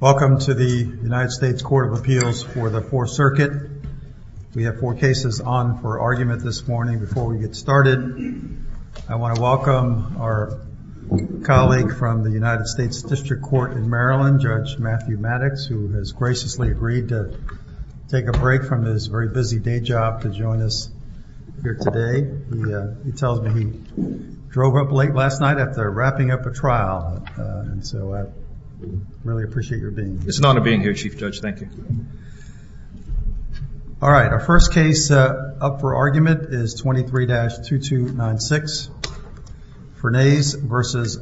Welcome to the United States Court of Appeals for the Fourth Circuit. We have four cases on for argument this morning. Before we get started, I want to welcome our colleague from the United States District Court in Maryland, Judge Matthew Maddox, who has graciously agreed to take a break from his very busy day job to join us here today. He tells me he drove up late last night after wrapping up a trial. And so I really appreciate your being here. It's an honor being here, Chief Judge. Thank you. All right. Our first case up for argument is 23-2296 Fernays v.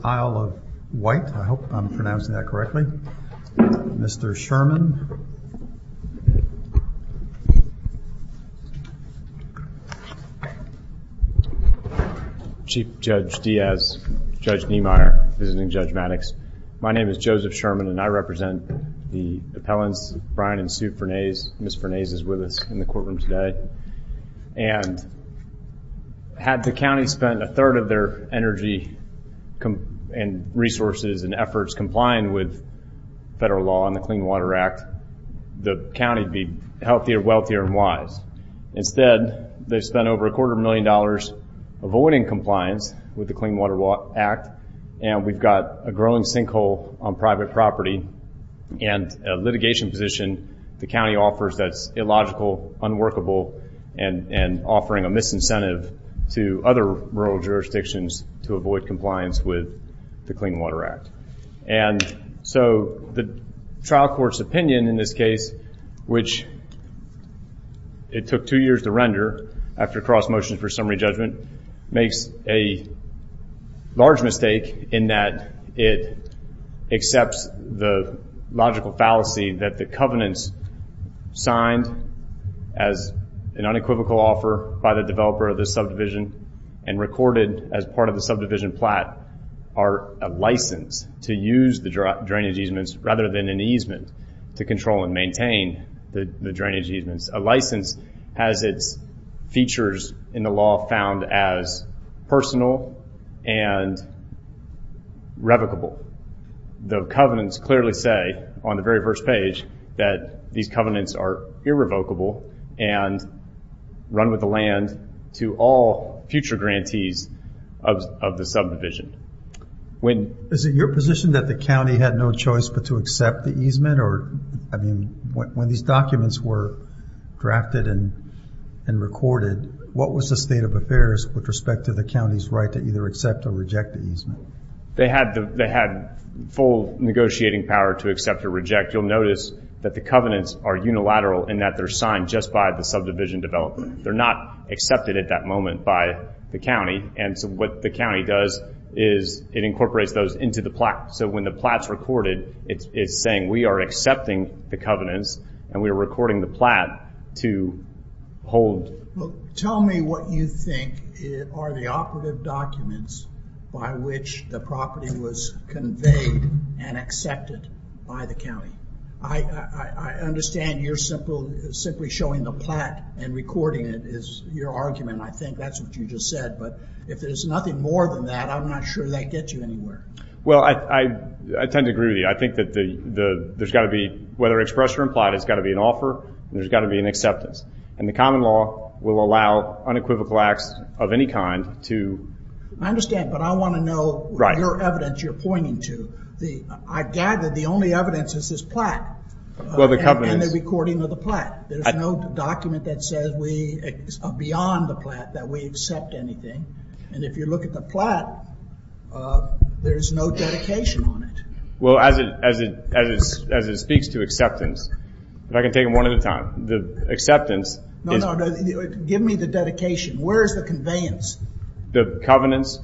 Isle of Wight. I hope I'm pronouncing that correctly. Mr. Sherman. Chief Judge Diaz, Judge Niemeyer, visiting Judge Maddox. My name is Joseph Sherman and I represent the appellants, Brian and Sue Fernays. Ms. Fernays is with us in the courtroom today. And had the county spent a third of their energy and resources and efforts complying with federal law and the Clean Water Act, the county would be healthier, wealthier, and wise. Instead, they've spent over a quarter of a million dollars avoiding compliance with the Clean Water Act. And we've got a growing sinkhole on private property and a litigation position the county offers that's illogical, unworkable, and offering a misincentive to other rural jurisdictions to avoid compliance with the Clean Water Act. And so the trial court's opinion in this case, which it took two years to render after cross-motion for summary judgment, makes a large mistake in that it accepts the logical fallacy that the covenants signed as an unequivocal offer by the developer of this subdivision and recorded as part of the subdivision plat are a license to use the drainage easements rather than an easement to control and maintain the drainage easements. A license has its features in the law found as personal and revocable. The covenants clearly say on the very first page that these covenants are irrevocable and run with the land to all future grantees of the subdivision. Is it your position that the county had no choice but to accept the easement? Or, I mean, when these documents were drafted and recorded, what was the state of affairs with respect to the county's right to either accept or reject the easement? They had full negotiating power to accept or reject. You'll notice that the covenants are unilateral in that they're signed just by the subdivision developer. They're not accepted at that moment by the county. And so what the county does is it incorporates those into the plat. So when the plat's recorded, it's saying we are accepting the covenants and we are recording the plat to hold. Tell me what you think are the operative documents by which the property was conveyed and accepted by the county. I understand you're simply showing the plat and recording it is your argument. I think that's what you just said. But if there's nothing more than that, I'm not sure that gets you anywhere. Well, I tend to agree with you. I think that there's got to be, whether expressed or implied, it's got to be an offer and there's got to be an acceptance. And the common law will allow unequivocal acts of any kind to... I understand, but I want to know your evidence you're pointing to. I gather the only evidence is this plat and the recording of the plat. There's no document that says we are beyond the plat that we accept anything. And if you look at the plat, there's no dedication on it. Well, as it speaks to acceptance, if I can take them one at a time, the acceptance... No, no. Give me the dedication. Where's the conveyance? The covenants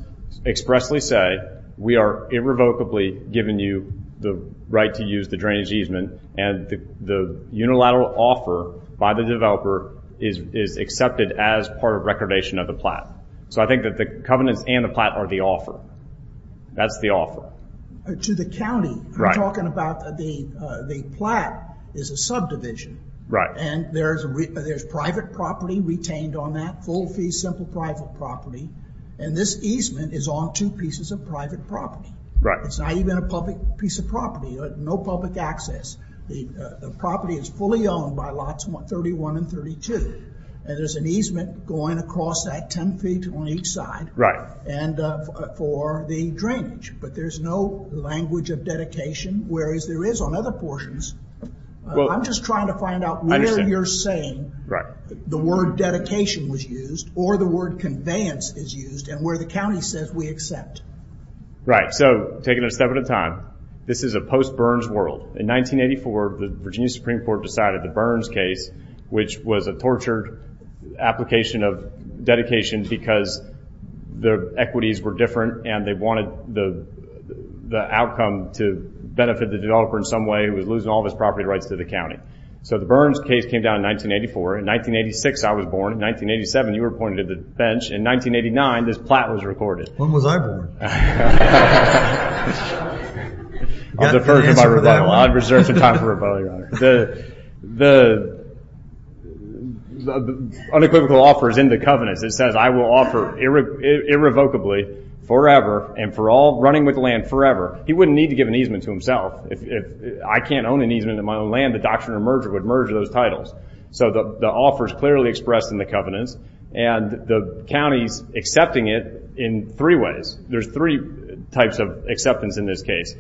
expressly say we are irrevocably giving you the right to use the drainage easement and the unilateral offer by the developer is accepted as part of recordation of the plat. So I think that the covenants and the plat are the offer. That's the offer. To the county, you're talking about the plat is a subdivision. And there's private property retained on that, full fee, simple private property. And this easement is on two pieces of private property. It's not even a public piece of property, no public access. The property is fully owned by lots 31 and 32. And there's an easement going across that 10 feet on each side. And for the drainage, but there's no language of dedication, whereas there is on other portions. I'm just trying to find out where you're saying the word dedication was used or the word conveyance is used and where the county says we accept. Right. So taking a step at a time, this is a post Burns world. In 1984, the Virginia Supreme court decided the Burns case, which was a tortured application of dedication because the equities were different and they wanted the outcome to benefit the developer in some way who was losing all of his property rights to the county. So the Burns case came down in 1984. In 1986, I was born. In 1987, you were appointed to the bench. In 1989, this plat was recorded. When was I born? I was a virgin by rebuttal. I had reserved some time for rebuttal, your honor. The unequivocal offer is in the covenants. It says I will offer irrevocably forever and for all running with the land forever. He wouldn't need to give an easement to himself. If I can't own an easement in my own land, the doctrine of merger would merge those titles. So the offer is clearly expressed in the covenants and the county's accepting it in three ways. There's three types of acceptance in this case.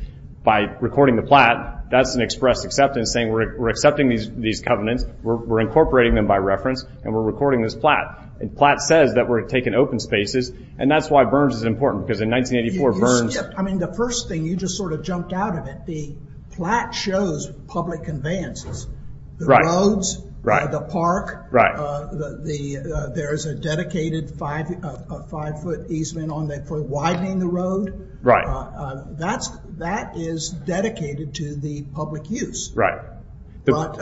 By recording the plat, that's an expressed acceptance saying, we're accepting these covenants. We're incorporating them by reference and we're recording this plat and plat says that we're taking open spaces and that's why Burns is important because in 1984 Burns, I mean, the first thing you just sort of jumped out of it, the plat shows public conveyances, the roads, the park, there's a dedicated five, a five foot easement on there for widening the road. Right. That's, that is dedicated to the public use. Right. But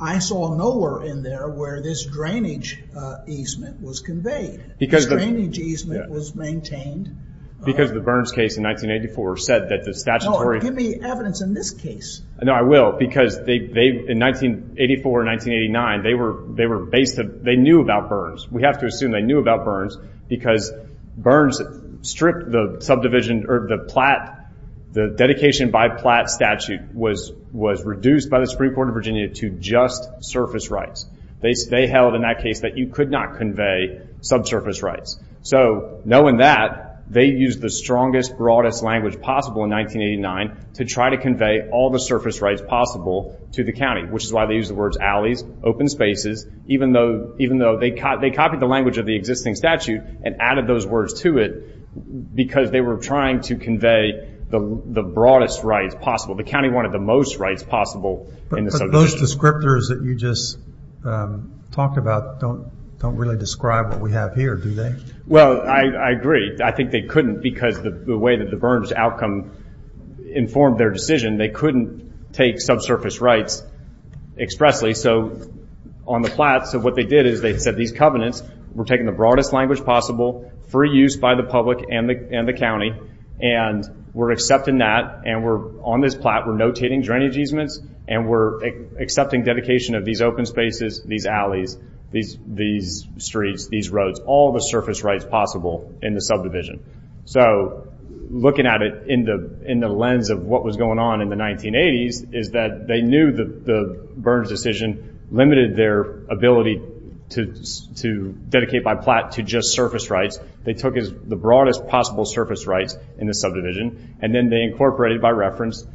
I saw nowhere in there where this drainage easement was conveyed. Because the drainage easement was maintained. Because the Burns case in 1984 said that the statutory. Give me evidence in this case. No, I will. Because they, they, in 1984, 1989, they were, they were based, they knew about Burns. We have to assume they knew about Burns because Burns stripped the subdivision or the plat, the dedication by plat statute was, was reduced by the Supreme Court of Virginia to just surface rights. They, they held in that case that you could not convey subsurface rights. So knowing that they use the strongest, broadest language possible in 1989 to try to convey all the surface rights possible to the county, which is why they use the words alleys, open spaces, even though, even though they caught, they copied the language of the existing statute and added those words to it because they were trying to convey the broadest rights possible. The county wanted the most rights possible. But those descriptors that you just talked about, don't, don't really describe what we have here, do they? Well, I agree. I think they couldn't because the way that the Burns outcome informed their decision, they couldn't take subsurface rights expressly. So on the plat, so what they did is they said, these covenants were taking the broadest language possible for use by the public and the, and the county. And we're accepting that. And we're on this plat, we're notating drainage easements and we're accepting dedication of these open spaces, these alleys, these, these streets, these roads, all the surface rights possible in the subdivision. So looking at it in the, in the lens of what was going on in the 1980s is that they knew the, the Burns decision limited their ability to, to dedicate by plat to just surface rights. They took as the broadest possible surface rights in the subdivision. And then they incorporated by reference,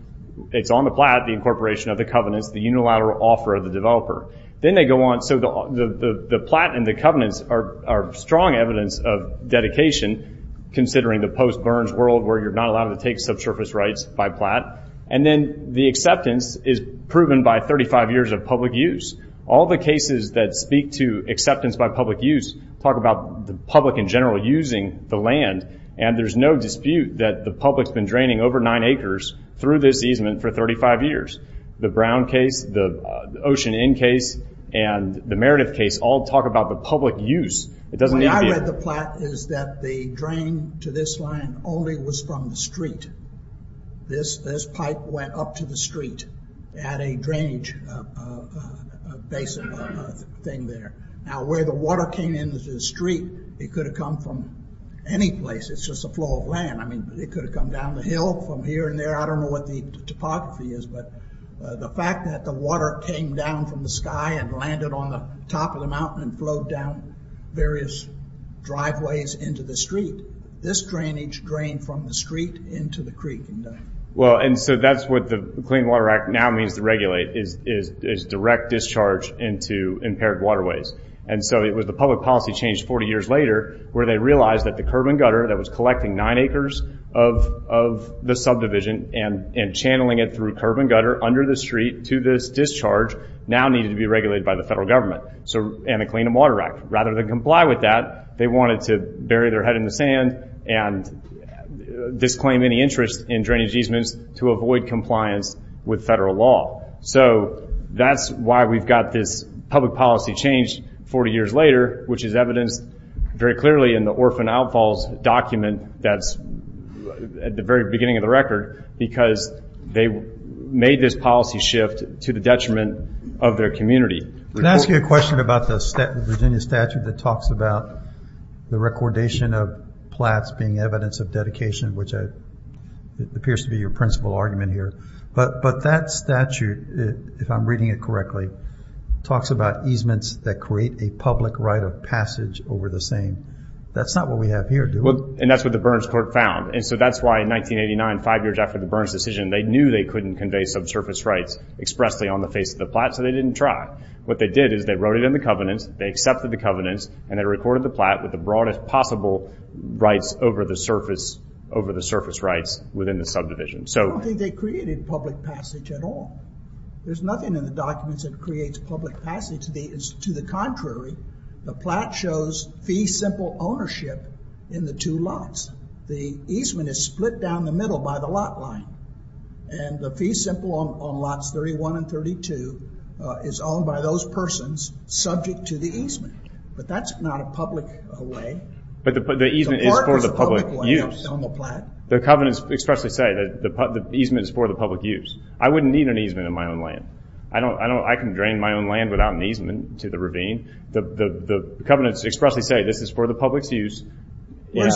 it's on the plat, the incorporation of the covenants, the unilateral offer of the developer. Then they go on. So the, the, the plat and the covenants are strong evidence of dedication, considering the post Burns world, where you're not allowed to take subsurface rights by plat. And then the acceptance is proven by 35 years of public use. All the cases that speak to acceptance by public use, talk about the public in general using the land. And there's no dispute that the public's been draining over nine acres through this easement for 35 years. The Brown case, the Ocean Inn case and the Meredith case all talk about the public use. It doesn't need to be. When I read the plat is that the drain to this line only was from the street. This, this pipe went up to the street at a drainage basin thing there. Now where the water came into the street, it could have come from any place. It's just a flow of land. I mean, it could have come down the hill from here and there. I don't know what the topography is, but the fact that the water came down from the sky and landed on the top of the mountain and flowed down various driveways into the street, this drainage drained from the street into the creek. Well, and so that's what the Clean Water Act now means to regulate is direct discharge into impaired waterways. And so it was the public policy changed 40 years later where they realized that the curb and gutter that was collecting nine acres of the subdivision and channeling it through curb and gutter under the street to this discharge now needed to be regulated by the federal government and the Clean Water Act. Rather than comply with that, they wanted to bury their head in the sand and disclaim any interest in drainage easements to avoid compliance with federal law. So that's why we've got this public policy change 40 years later, which is evidenced very clearly in the orphan outfalls document that's at the very beginning of the record because they made this policy shift to the detriment of their community. Can I ask you a question about the Virginia statute that talks about the recordation of plats being evidence of dedication, which appears to be your principal argument here. But that statute, if I'm reading it correctly, talks about easements that create a public right of passage over the same. That's not what we have here. And that's what the Burns court found. And so that's why in 1989 five years after the Burns decision, they knew they couldn't convey subsurface rights expressly on the face of the plot. What they did is they wrote it in the covenants, they accepted the covenants and they recorded the plot with the broadest possible rights over the surface rights within the subdivision. So I don't think they created public passage at all. There's nothing in the documents that creates public passage. To the contrary, the plot shows fee simple ownership in the two lots. The easement is split down the middle by the lot line and the fee simple on lots 31 and 32 is owned by those persons subject to the easement. But that's not a public way. But the easement is for the public use. The covenants expressly say that the easement is for the public use. I wouldn't need an easement in my own land. I can drain my own land without an easement to the ravine. The covenants expressly say this is for the public's use in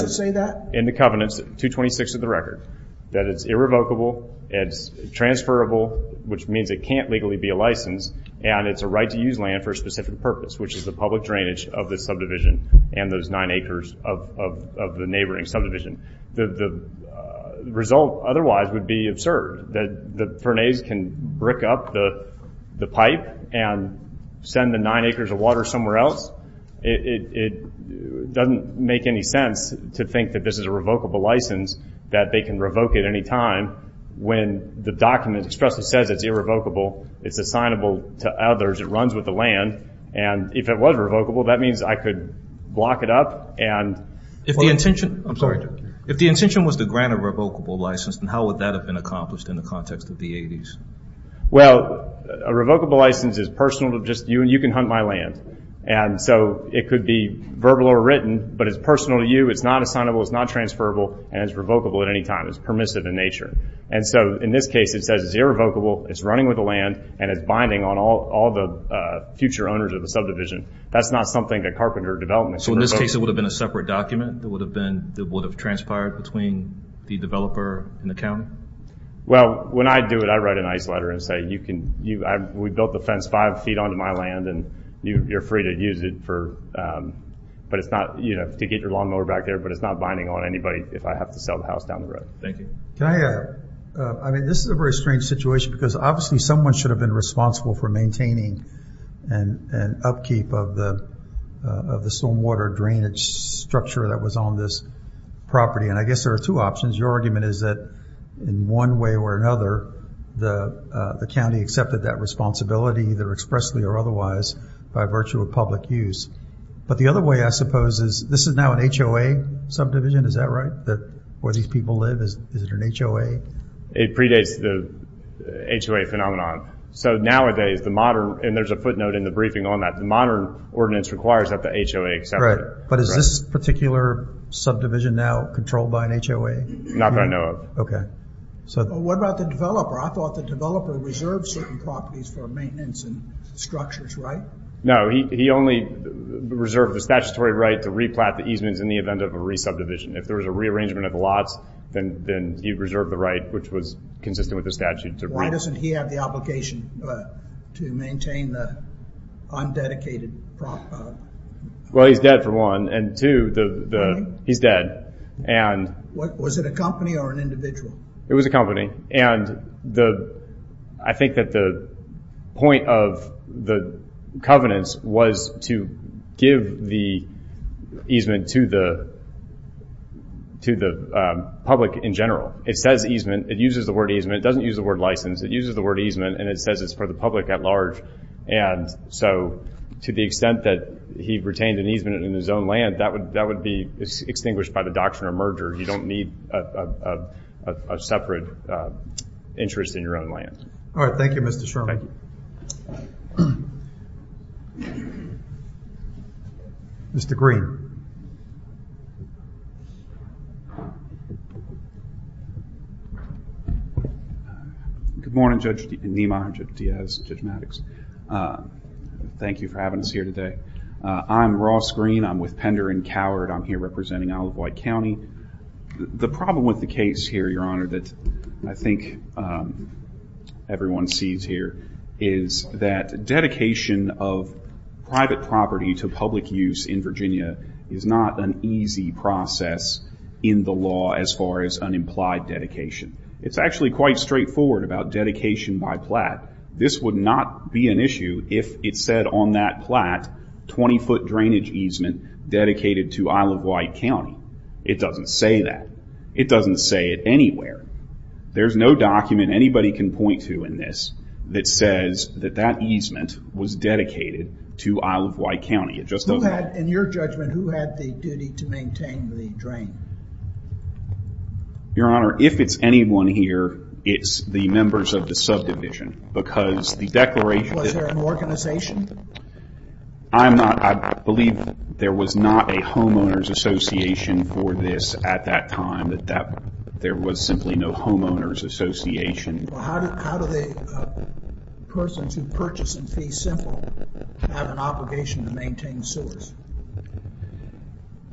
the covenants, 226 of the record, that it's irrevocable, it's transferable, which means it can't legally be a license, and it's a right to use land for a specific purpose, which is the public drainage of the subdivision and those nine acres of the neighboring subdivision. The result otherwise would be absurd, that the Fernays can brick up the pipe and send the nine acres of water somewhere else. It doesn't make any sense to think that this is a revocable license that they can revoke at any time when the document expressly says it's irrevocable, it's assignable to others, it runs with the land. And if it was revocable, that means I could block it up. And if the intention was to grant a revocable license, then how would that have been accomplished in the context of the 80s? Well, a revocable license is personal to just you and you can hunt my land. And so it could be verbal or written, but it's personal to you. It's not assignable, it's not transferable, and it's revocable at any time. It's permissive in nature. And so in this case, it says it's irrevocable, it's running with the land and it's binding on all the future owners of the subdivision. That's not something that Carpenter Development can revoke. So in this case, it would have been a separate document that would have transpired between the developer and the county? Well, when I do it, I write a nice letter and say, we built the fence five feet onto my land and you're free to use it, to get your lawnmower back there, but it's not binding on anybody if I have to sell the house down the road. Thank you. I mean, this is a very strange situation because obviously someone should have been responsible for maintaining and upkeep of the stormwater drainage structure that was on this property. And I guess there are two options. Your argument is that in one way or another, the county accepted that responsibility either expressly or otherwise by virtue of public use. But the other way, I suppose is this is now an HOA subdivision. Is that right? That where these people live is, is it an HOA? It predates the HOA phenomenon. So nowadays the modern, and there's a footnote in the briefing on that. The modern ordinance requires that the HOA accept it. But is this particular subdivision now controlled by an HOA? Not that I know of. Okay. So what about the developer? I thought the developer reserved certain properties for maintenance and structures, right? he only reserved the statutory right to replant the easements in the event of a resubdivision. If there was a rearrangement of the lots, then he reserved the right, which was consistent with the statute. Why doesn't he have the obligation to maintain the undedicated? Well, he's dead for one. And two, he's dead. Was it a company or an individual? It was a company. And the, I think that the point of the covenants was to give the easement to the, to the public in general. It says easement, it uses the word easement. It doesn't use the word license. It uses the word easement and it says it's for the public at large. And so to the extent that he retained an easement in his own land, that would, that would be extinguished by the doctrine of merger. You don't need a separate interest in your own land. All right. Thank you, Mr. Sherman. Mr. Green. Good morning, Judge Niemeyer, Judge Diaz, Judge Maddox. Thank you for having us here today. I'm Ross Green. I'm with Pender and Coward. I'm here representing Isle of Wight County. The problem with the case here, Your Honor, that I think everyone sees here is that dedication of private property to public use in Virginia is not an easy process in the law as far as unimplied dedication. It's actually quite straightforward about dedication by plat. This would not be an issue if it said on that plat, 20 foot drainage easement dedicated to Isle of Wight County. It doesn't say that. It doesn't say it anywhere. There's no document anybody can point to in this that says that that easement was dedicated to Isle of Wight County. It just doesn't. Who had, in your judgment, who had the duty to maintain the drain? Your Honor, if it's anyone here, it's the members of the subdivision because the declaration. Was there an organization? I'm not. I believe there was not a homeowners association for this at that time, that there was simply no homeowners association. How do the persons who purchase and fee simple have an obligation to maintain the sewers?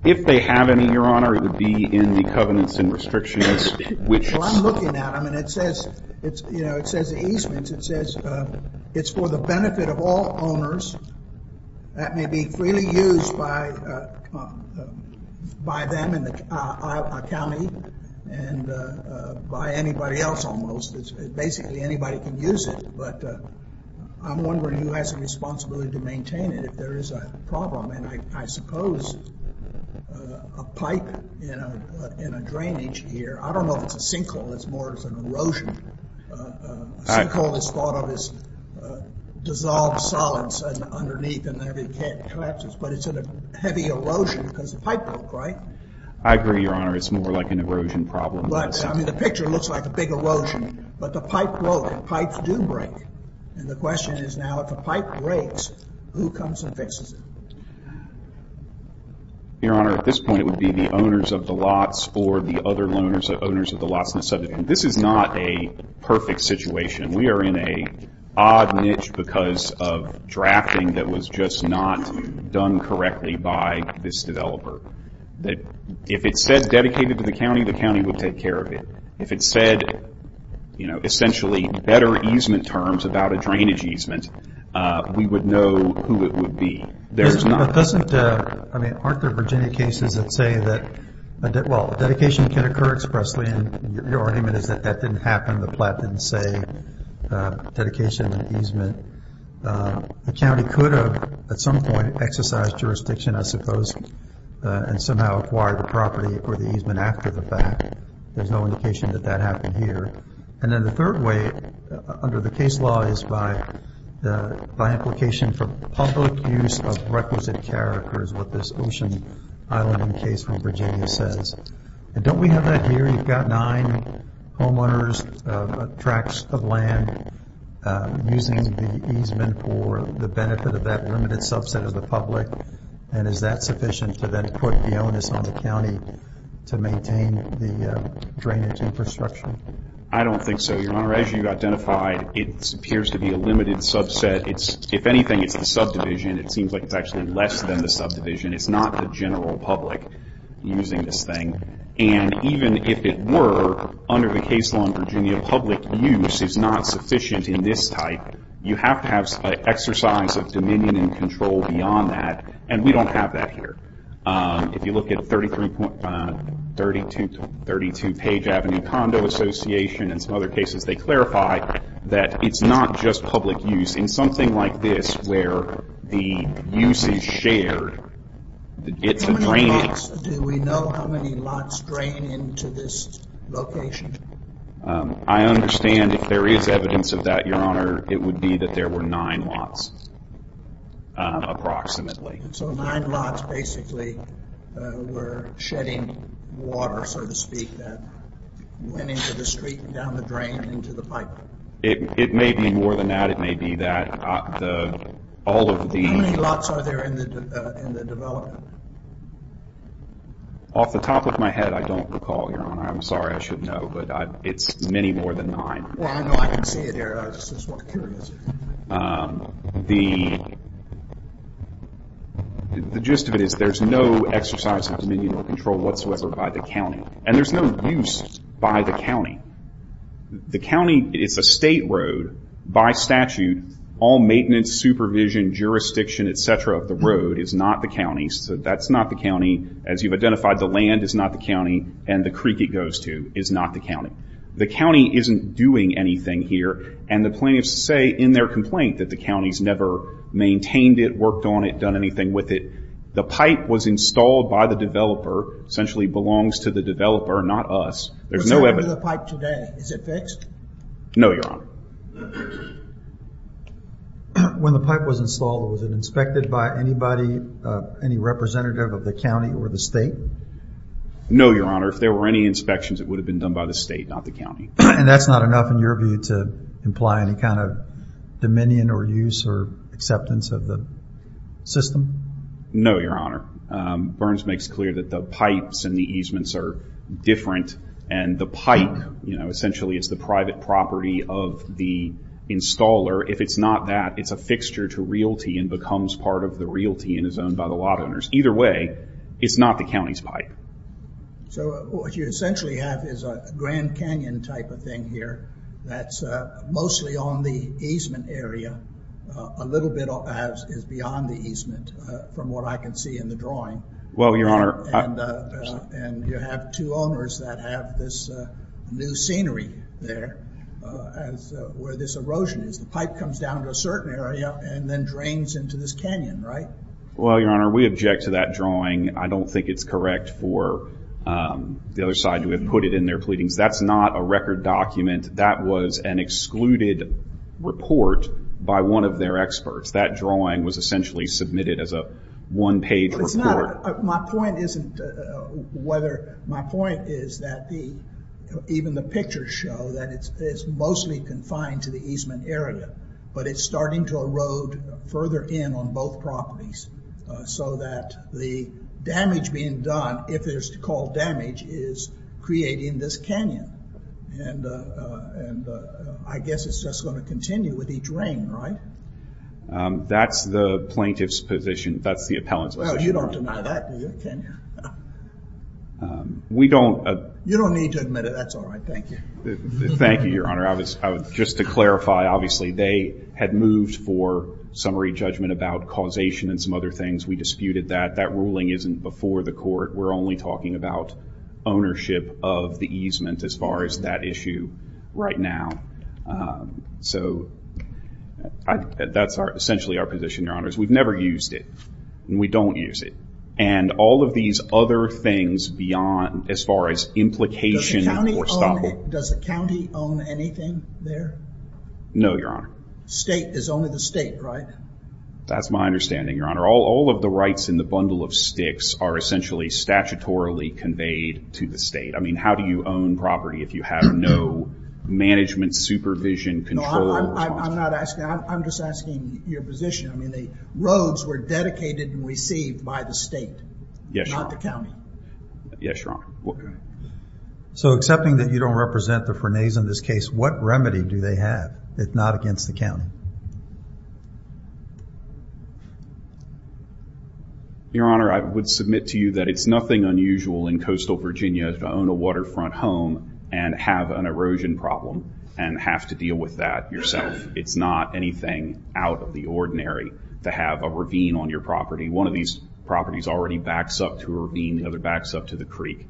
If they have any, Your Honor, it would be in the covenants and restrictions. Well, I'm looking at them and it says, it's, you know, it says the easements. It says it's for the benefit of all owners. That may be freely used by them in the Isle of Wight County and by anybody else almost. Basically anybody can use it, but I'm wondering who has a responsibility to maintain it if there is a problem. And I suppose a pipe in a drainage here, I don't know if it's a sinkhole, it's more of an erosion. A sinkhole is thought of as dissolved solids underneath and there'd be catches, but it's in a heavy erosion because the pipe broke, right? I agree, Your Honor. It's more like an erosion problem. But I mean, the picture looks like a big erosion, but the pipe broke. Pipes do break. And the question is now if a pipe breaks, who comes and fixes it? Your Honor, at this point, it would be the owners of the lots or the other owners of the lots in the area. This is not a perfect situation. We are in a odd niche because of drafting that was just not done correctly by this developer. If it said dedicated to the county, the county would take care of it. If it said, you know, essentially better easement terms about a drainage easement, we would know who it would be. I mean, aren't there Virginia cases that say that, well, dedication can occur expressly. And your argument is that that didn't happen. The plat didn't say dedication and easement. The county could have, at some point, exercised jurisdiction, I suppose, and somehow acquired the property or the easement after the fact. There's no indication that that happened here. And then the third way, under the case law is by implication for public use of requisite characters, what this ocean islanding case from Virginia says. And don't we have that here? You've got nine homeowners, tracts of land using the easement for the benefit of that limited subset of the public. And is that sufficient to then put the onus on the county to maintain the drainage infrastructure? I don't think so, Your Honor. As you identified, it appears to be a limited subset. It's, if anything, it's the subdivision. It seems like it's actually less than the subdivision. It's not the general public using this thing. And even if it were, under the case law in Virginia, public use is not sufficient in this type. You have to have an exercise of dominion and control beyond that. And we don't have that here. If you look at 32 Page Avenue Condo Association and some other cases, they clarify that it's not just public use. In something like this, where the use is shared, it's a drainage. Do we know how many lots drain into this location? I understand if there is evidence of that, Your Honor, it would be that there were nine lots approximately. So nine lots basically were shedding water, so to speak, that went into the street and down the drain and into the pipe. It may be more than that. It may be that. How many lots are there in the development? Off the top of my head, I don't recall, Your Honor. I'm sorry. I should know, but it's many more than nine. Well, I know I can see it here. I was just curious. The gist of it is there's no exercise of dominion or control whatsoever by the county. And there's no use by the county. The county, it's a state road by statute. All maintenance, supervision, jurisdiction, etc. of the road is not the county's. So that's not the county. As you've identified, the land is not the county, and the creek it goes to is not the county. The county isn't doing anything here. And the plaintiffs say in their complaint that the county's never maintained it, worked on it, done anything with it. The pipe was installed by the developer, essentially belongs to the developer, not us. It's under the pipe today. Is it fixed? No, Your Honor. When the pipe was installed, was it inspected by anybody, any representative of the county or the state? No, Your Honor. If there were any inspections, it would have been done by the state, not the county. And that's not enough in your view to imply any kind of dominion or use or acceptance of the system? No, Your Honor. Burns makes clear that the pipes and the easements are different, and the pipe, you know, essentially is the private property of the installer. If it's not that, it's a fixture to realty and becomes part of the realty and is owned by the lot owners. Either way, it's not the county's pipe. So what you essentially have is a Grand Canyon type of thing here that's mostly on the easement area, a little bit is beyond the easement, from what I can see in the drawing. Well, Your Honor. And you have two owners that have this new scenery there as where this erosion is. The pipe comes down to a certain area and then drains into this canyon, right? Well, Your Honor, we object to that drawing. I don't think it's correct for the other side to have put it in their pleadings. That's not a record document. That was an excluded report by one of their experts. That drawing was essentially submitted as a one page report. My point is that even the pictures show that it's mostly confined to the easement area, but it's starting to erode further in on both properties so that the damage being done, if there's to call damage, is creating this canyon. And I guess it's just going to continue with each rain, right? That's the plaintiff's position. That's the appellant's position. Well, you don't deny that, do you, can you? We don't... You don't need to admit it. That's all right. Thank you. Thank you, Your Honor. Just to clarify, obviously, they had moved for summary judgment about causation and some other things. We disputed that. That ruling isn't before the court. We're only talking about ownership of the easement as far as that issue right now. So that's essentially our position, Your Honors. We've never used it, and we don't use it. And all of these other things beyond as far as implication or stop. Does the county own anything there? No, Your Honor. State is only the state, right? That's my understanding, Your Honor. All of the rights in the bundle of sticks are essentially statutorily conveyed to the state. I mean, how do you own property if you have no management supervision control? No, I'm not asking that. I'm just asking your position. I mean, the roads were dedicated and received by the state, not the county. Yes, Your Honor. So accepting that you don't represent the Frenets in this case, what remedy do they have if not against the county? Your Honor, I would submit to you that it's nothing unusual in coastal Virginia to own a waterfront home and have an erosion problem and have to deal with that yourself. It's not anything out of the ordinary to have a ravine on your property. One of these properties already backs up to a ravine, the other backs up to the creek.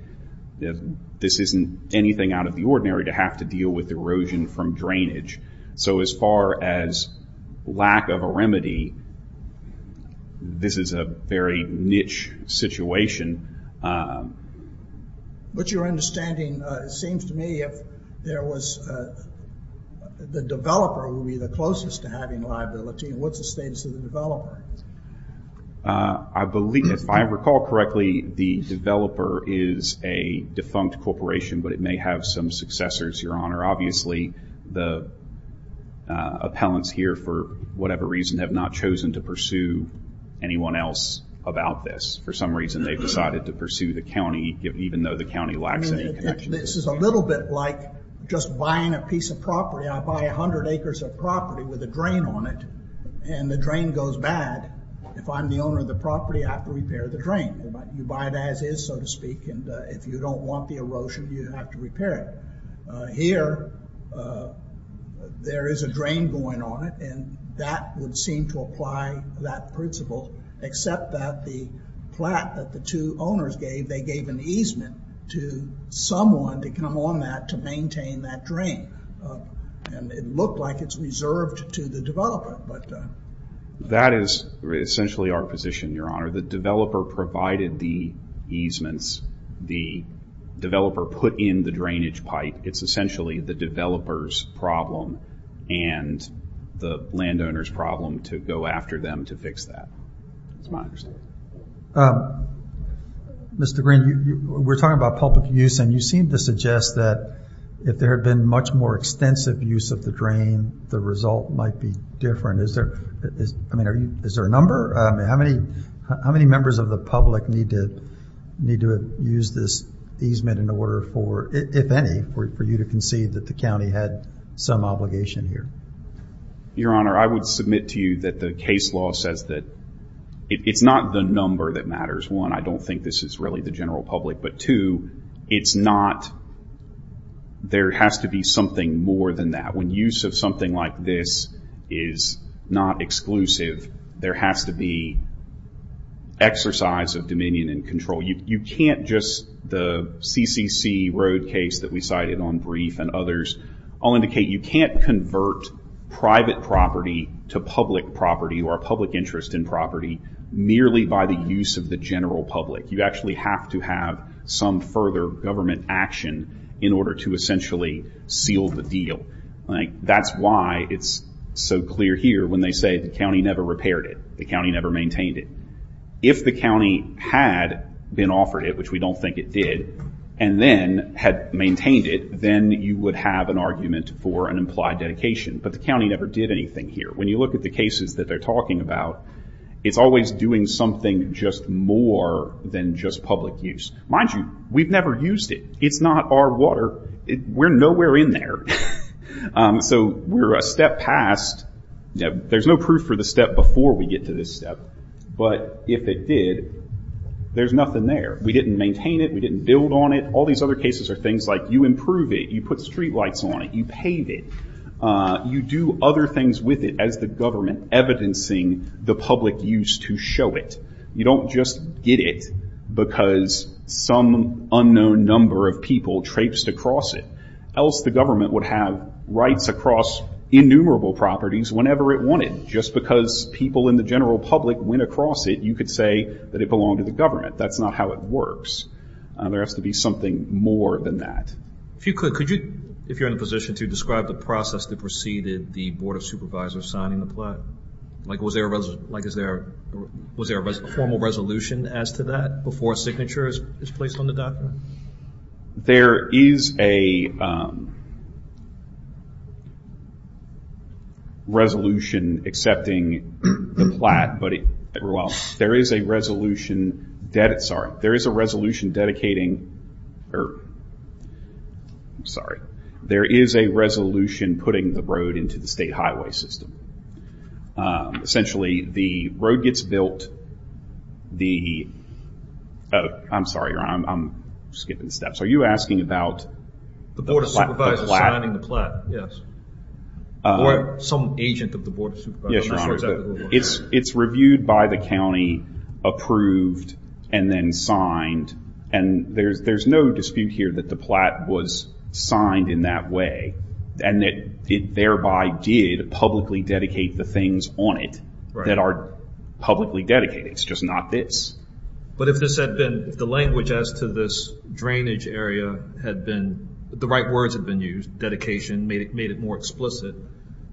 This isn't anything out of the ordinary to have to deal with erosion from drainage. So as far as lack of a remedy, this is a very niche situation. But your understanding, it seems to me, if there was the developer who would be the closest to having liability, what's the status of the developer? If I recall correctly, the developer is a defunct corporation, but it may have some successors, Your Honor. Obviously, the appellants here, for whatever reason, have not chosen to pursue anyone else about this. For some reason, they've decided to pursue the county, even though the county lacks any connections. This is a little bit like just buying a piece of property. I buy 100 acres of property with a drain on it, and the drain goes bad. If I'm the owner of the property, I have to repair the drain. You buy it as is, so to speak, and if you don't want the erosion, you have to repair it. Here, there is a drain going on it, and that would seem to apply that principle, except that the plot that the two owners gave, they gave an easement to someone to come on that to maintain that drain. It looked like it's reserved to the developer. That is essentially our position, Your Honor. The developer provided the easements. The developer put in the drainage pipe. It's essentially the developer's problem and the landowner's problem to go after them to fix that. That's my understanding. Mr. Green, we're talking about public use, and you seem to suggest that if there had been much more extensive use of the drain, the result might be different. Is there a number? How many members of the public need to use this easement in order for, if any, for you to concede that the county had some obligation here? Your Honor, I would submit to you that the case law says that it's not the number that matters. One, I don't think this is really the general public, but two, there has to be something more than that. When use of something like this is not exclusive, there has to be exercise of dominion and control. You can't just, the CCC Road case that we cited on brief and others, all indicate you can't convert private property to public property or public interest in property merely by the use of the general public. You actually have to have some further government action in order to essentially seal the deal. That's why it's so clear here when they say the county never repaired it, the county never maintained it. If the county had been offered it, which we don't think it did, and then had maintained it, then you would have an argument for an implied dedication, but the county never did anything here. When you look at the cases that they're talking about, it's always doing something just more than just public use. Mind you, we've never used it. It's not our water. We're nowhere in there. We're a step past. There's no proof for the step before we get to this step, but if it did, there's nothing there. We didn't maintain it. We didn't build on it. All these other cases are things like you improve it, you put street lights on it, you paint it, you do other things with it as the government evidencing the public use to show it. You don't just get it because some unknown number of people traipsed across it. Else, the government would have rights across innumerable properties whenever it wanted. Just because people in the general public went across it, you could say that it belonged to the government. That's not how it works. There has to be something more than that. If you could, could you, if you're in a position to, describe the process that preceded the Board of Supervisors signing the plot? Like, was there a formal resolution as to that before a signature is placed on the document? There is a resolution accepting the plot, but it, well, there is a resolution, sorry, there is a resolution dedicating, or, I'm sorry, there is a resolution putting the road into the state highway system. Essentially, the road gets built, the, oh, I'm sorry, Ron, I'm skipping steps. Are you asking about the plot? The Board of Supervisors signing the plot, yes. Or some agent of the Board of Supervisors. Yes, Ron, it's reviewed by the county, approved, and then signed, and there's no dispute here that the plot was signed in that way, and that it thereby did publicly dedicate the things on it that are publicly dedicated, it's just not this. But if this had been, if the language as to this drainage area had been, the right words had been used, dedication made it more explicit,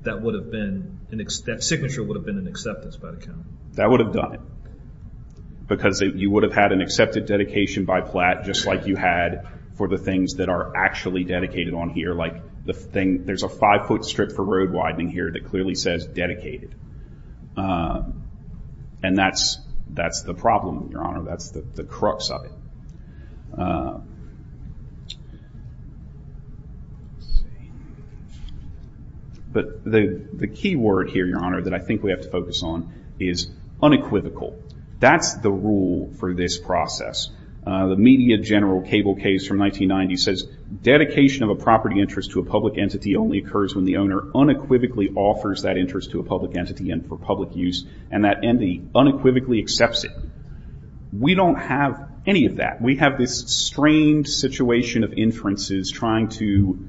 that would have been, that signature would have been an acceptance by the county. That would have done it, because you would have had an accepted dedication by PLAT, just like you had for the things that are actually dedicated on here, like the thing, there's a five-foot strip for road widening here that clearly says dedicated. And that's the problem, Your Honor, that's the crux of it. But the key word here, Your Honor, that I think we have to focus on is unequivocal. That's the rule for this process. The media general cable case from 1990 says dedication of a property interest to a public entity only occurs when the owner unequivocally offers that interest to a public entity and for public use, and that entity unequivocally accepts it. We don't have any of that. We have this strange situation of inferences trying to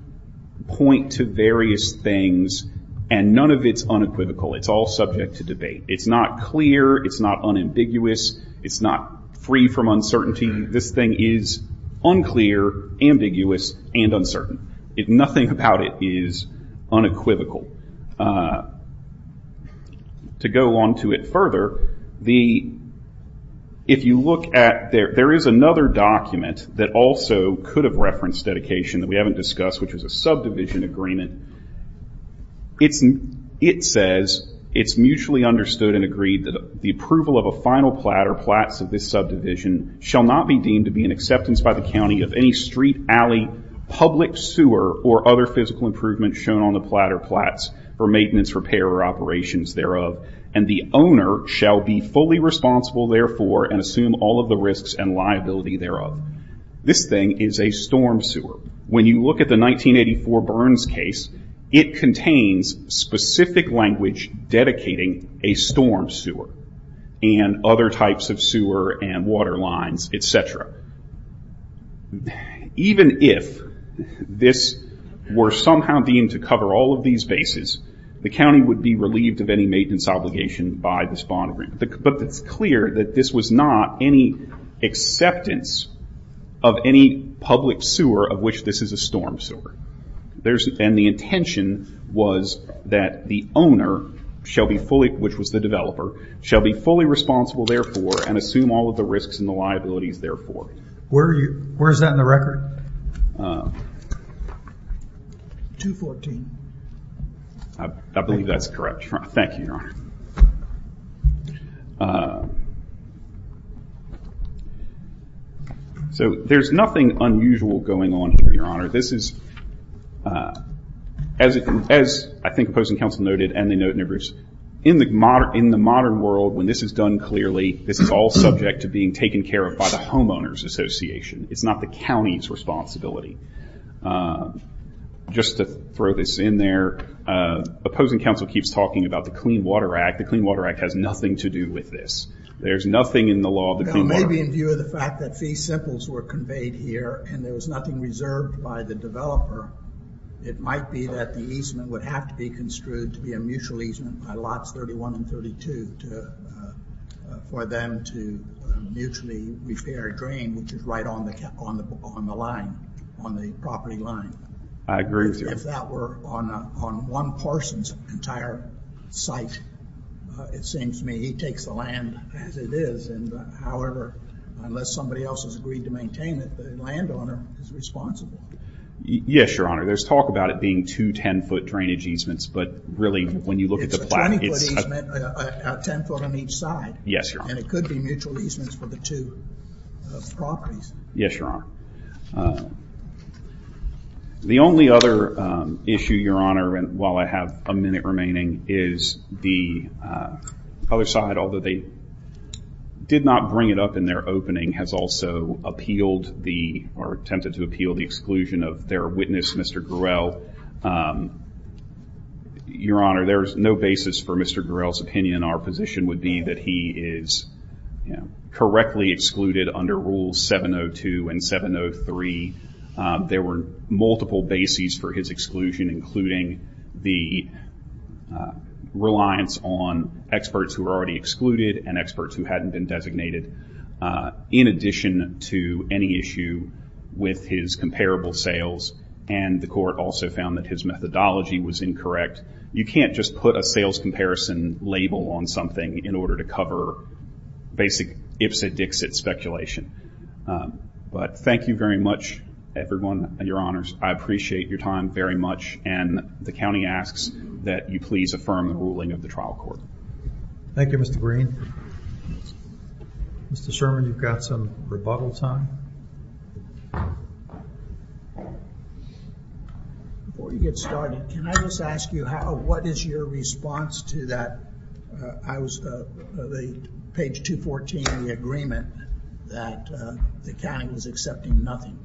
point to various things and none of it's unequivocal. It's all subject to debate. It's not clear, it's not unambiguous, it's not free from uncertainty. This thing is unclear, ambiguous, and uncertain. Nothing about it is unequivocal. To go on to it further, if you look at, there is another document that also could have referenced dedication that we haven't discussed which is a subdivision agreement. It says, it's mutually understood and agreed that the approval of a final plat or plats of this subdivision shall not be deemed to be an acceptance by the county of any street alley public sewer or other physical improvement shown on the plat or plats for maintenance, repair, or operations thereof, and the owner shall be fully responsible therefore and assume all of the risks and liability thereof. This thing is a storm sewer. When you look at the 1984 Burns case, it contains specific language dedicating a storm sewer and other types of sewer and water lines etc. Even if this were somehow deemed to cover all of these bases, the county would be relieved of any maintenance obligation by this bond agreement. It's clear that this was not any acceptance of any public sewer of which this is a storm sewer. The intention was that the owner which was the developer, shall be fully responsible therefore and assume all of the risks and liabilities therefore. Where is that in the record? 214. I believe that's correct. Thank you, Your Honor. So, there's nothing unusual going on here, Your Honor. This is as I think opposing counsel noted and they note in their briefs, in the modern world, when this is done clearly, this is all subject to being taken care of by the homeowners association. It's not the county's responsibility. Just to throw this in there, opposing counsel keeps talking about the Clean Water Act. The Clean Water Act has nothing to do with this. There's nothing in the law of the Clean Water Act. Maybe in view of the fact that fee samples were conveyed here and there was nothing reserved by the developer, it might be that the easement would have to be construed to be a mutual easement by lots 31 and 32 for them to mutually repair a drain which is right on the line, on the property line. I agree with you. If that were on one person's entire site, it seems to me he takes the land as it is and however unless somebody else has agreed to maintain it, the landowner is responsible. Yes, Your Honor. There's talk about it being two ten foot drainage easements but really when you look it's a 20 foot easement at 10 foot on each side. Yes, Your Honor. And it could be mutual easements for the two properties. Yes, Your Honor. The only other issue, Your Honor, while I have a minute remaining is the other side, although they did not bring it up in their opening, has also appealed or attempted to appeal the exclusion of their witness, Mr. Gruelle. Your Honor, there's no basis for Mr. Gruelle's opinion. Our position would be that he is correctly excluded under Rule 702 and 703. There were multiple bases for his exclusion including the reliance on experts who were already excluded and experts who hadn't been designated in addition to any issue with his comparable sales and the court also found that his methodology was incorrect. You can't just put a sales comparison label on something in order to cover basic Ipsit-Dixit speculation. But thank you very much, everyone, Your Honors. I appreciate your time very much and the county asks that you please affirm the ruling of the trial court. Thank you, Mr. Green. Mr. Sherman, you've got some rebuttal time. Before you get started, can I just ask you what is your response to that page 214 agreement that the county was accepting nothing?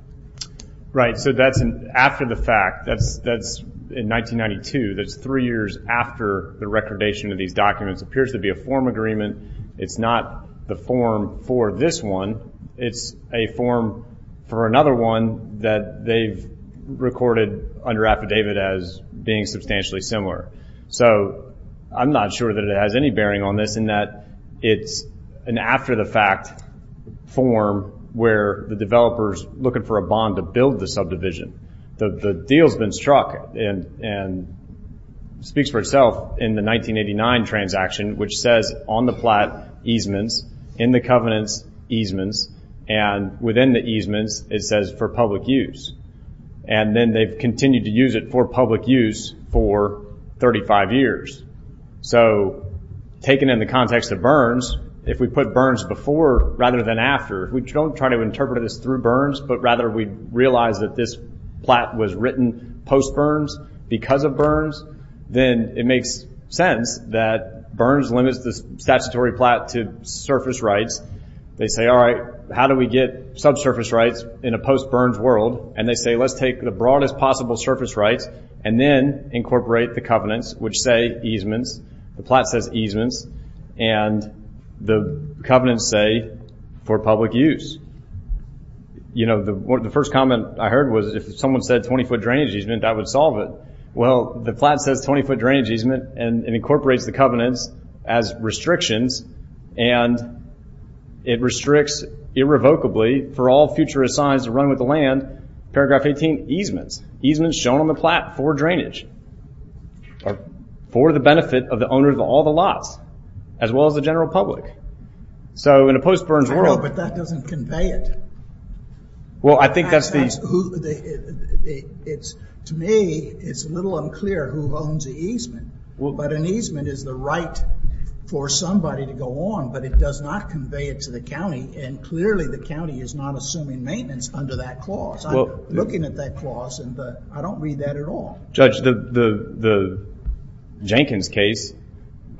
Right, so that's after the fact. That's in 1992. That's three years after the recordation of these documents. It appears to be a form agreement. It's not the form for this one. It's a form for another one that they've recorded under affidavit as being substantially similar. So, I'm not sure that it has any bearing on this in that it's an after the fact form where the developer's looking for a bond to build the subdivision. The deal's been struck and speaks for itself in the 1989 transaction which says on the plat easements, in the covenants easements, and within the easements, it says for public use. And then they've continued to use it for public use for 35 years. So, taken in the context of Burns, if we put Burns before rather than after, we don't try to interpret this through Burns, but rather we realize that this plat was written post Burns because of Burns, then it makes sense that Burns limits the statutory plat to surface rights. They say, alright, how do we get subsurface rights in a post Burns world? And they say, let's take the broadest possible surface rights and then incorporate the covenants which say easements, the plat says easements, and the covenants say for public use. You know, the first comment I heard was, if someone said 20 foot drainage easement, that would solve it. Well, the plat says 20 foot drainage easement and incorporates the covenants as restrictions, and it restricts irrevocably for all future assigns to run with the land, paragraph 18, easements, easements shown on the plat for drainage. For the benefit of the owner of all the lots, as well as the general public. So, in a post Burns world... I know, but that doesn't convey it. Well, I think that's the... To me, it's a little unclear who owns the easement, but an easement is the right for somebody to go on, but it does not convey it to the county and clearly the county is not assuming maintenance under that clause. Looking at that clause, I don't read that at all. Judge, the Jenkins case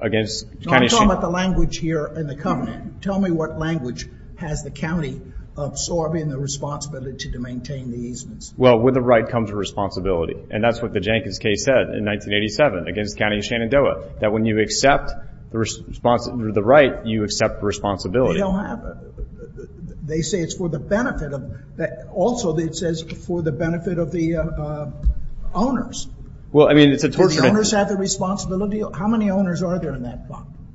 against... No, I'm talking about the language here in the covenant. Tell me what language has the county absorbing the responsibility to maintain the easements. Well, with the right comes responsibility, and that's what the Jenkins case said in 1987 against the county of Shenandoah, that when you accept the right, you accept the responsibility. They don't have... They say it's for the benefit of... Also, it says for the benefit of the owners. Well, I mean, it's a torture... Do the owners have the responsibility? How many owners are there in that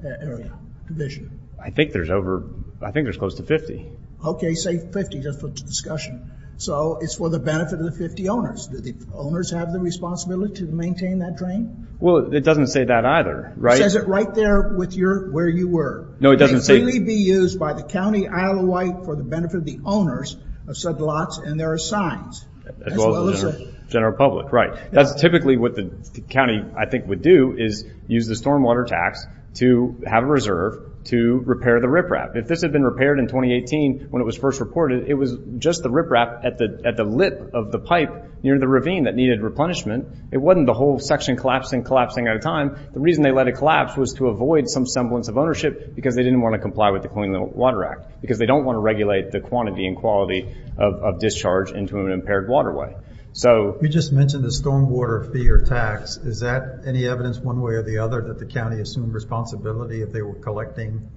area? Division. I think there's over... I think there's close to 50. Okay, say 50, just for discussion. So, it's for the benefit of the 50 owners. Do the owners have the responsibility to maintain that drain? Well, it doesn't say that either, right? It says it right there where you were. No, it doesn't say... It can freely be used by the county Isle of Wight for the benefit of the owners of said lots, and there are signs. As well as the general public. Right. That's typically what the county I think would do, is use the stormwater tax to have a reserve to repair the riprap. If this had been repaired in 2018 when it was first reported, it was just the riprap at the lip of the pipe near the ravine that needed replenishment. It wasn't the whole section collapsing, collapsing at a time. The reason they let it collapse was to avoid some semblance of ownership, because they didn't want to comply with the Clean Water Act. Because they don't want to regulate the quantity and quality of discharge into an impaired waterway. So... You just mentioned the stormwater fee or tax. Is that any evidence one way or the other that the county assumed responsibility if they were collecting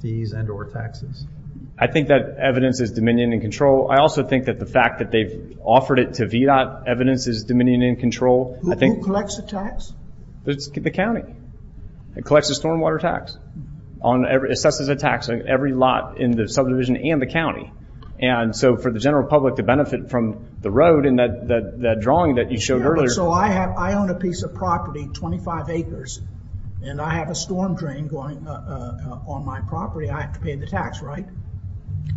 fees and or taxes? I think that evidence is dominion and control. I also think that the fact that they've offered it to VDOT evidence is dominion and control. Who collects the tax? The county. It collects the stormwater tax. Assesses the tax on every lot in the subdivision and the county. So for the general public to benefit from the road and that drawing that you showed earlier... So I own a piece of property, 25 acres, and I have a storm drain going on my property, I have to pay the tax, right?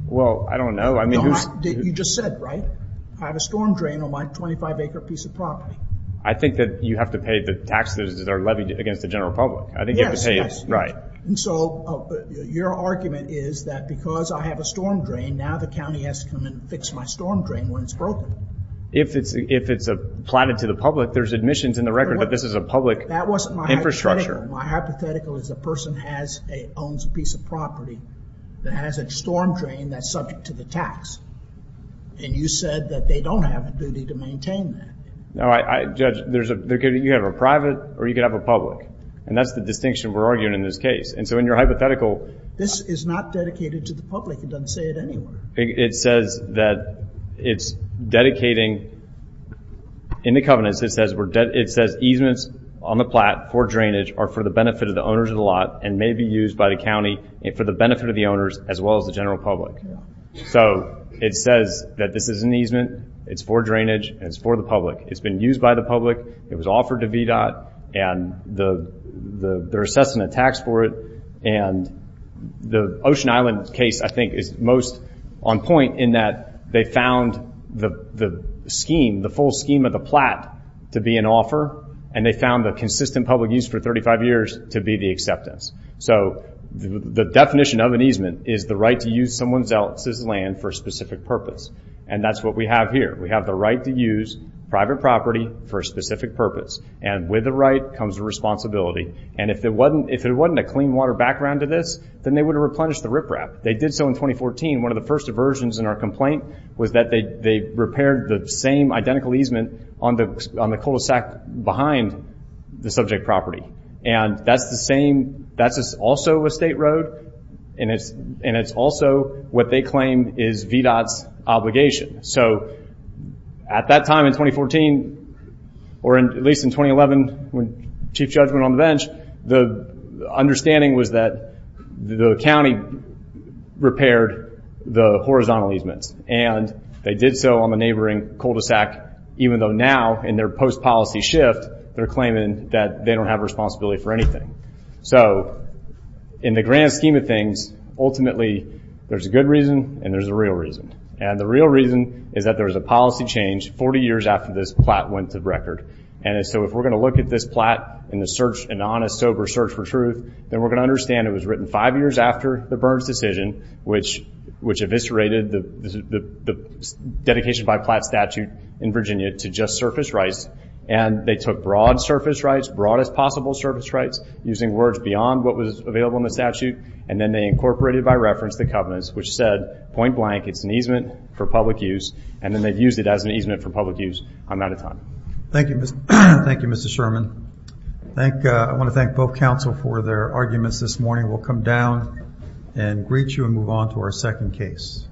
Well, I don't know. You just said, right? I have a storm drain on my 25 acre piece of property. I think that you have to pay the taxes that are levied against the general public. Yes. So your argument is that because I have a storm drain now the county has to come in and fix my storm drain when it's broken. If it's platted to the public, there's admissions in the record that this is a public infrastructure. That wasn't my hypothetical. My hypothetical is a person owns a piece of property that has a storm drain that's subject to the tax. And you said that they don't have a duty to maintain that. Judge, you could have a private or you could have a public. And that's the distinction we're arguing in this case. And so in your hypothetical... This is not dedicated to the public. It doesn't say it anywhere. It says that it's dedicating... In the covenants it says easements on the plat for drainage are for the benefit of the owners of the lot and may be used by the county for the benefit of the owners as well as the general public. So it says that this is an easement. It's for drainage and it's for the public. It's been used by the public. It was offered to VDOT. And they're assessing a tax for it. The Ocean Island case I think is most on point in that they found the scheme, the full scheme of the plat to be an offer. And they found the consistent public use for 35 years to be the acceptance. So the definition of an easement is the right to use someone else's land for a specific purpose. And that's what we have here. We have the right to use private property for a specific purpose. And with the right comes the responsibility. And if it wasn't a clean water background to this, then they would have replenished the riprap. They did so in 2014. One of the first aversions in our complaint was that they repaired the same identical easement on the cul-de-sac behind the subject property. And that's the same that's also a state road. And it's also what they claim is VDOT's obligation. So at that time in 2014 or at least in 2011 when Chief Judge went on the bench, the understanding was that the county repaired the horizontal easements. And they did so on the neighboring cul-de-sac, even though now in their post-policy shift they're claiming that they don't have responsibility for anything. So in the grand scheme of things ultimately there's a good reason and there's a real reason. And the real reason is that there was a policy change 40 years after this plat went to record. And so if we're going to look at this plat in an honest, sober search for truth, then we're going to understand it was written five years after the Burns decision which eviscerated the dedication by plat statute in Virginia to just surface rights. And they took broad surface rights, broad as possible surface rights, using words beyond what was available in the statute. And then they incorporated by reference the covenants, which said point blank, it's an easement for public use. And then they used it as an easement for public use on that time. Thank you, Mr. Sherman. I want to thank both counsel for their arguments this morning. We'll come down and greet you as we move on to our second case.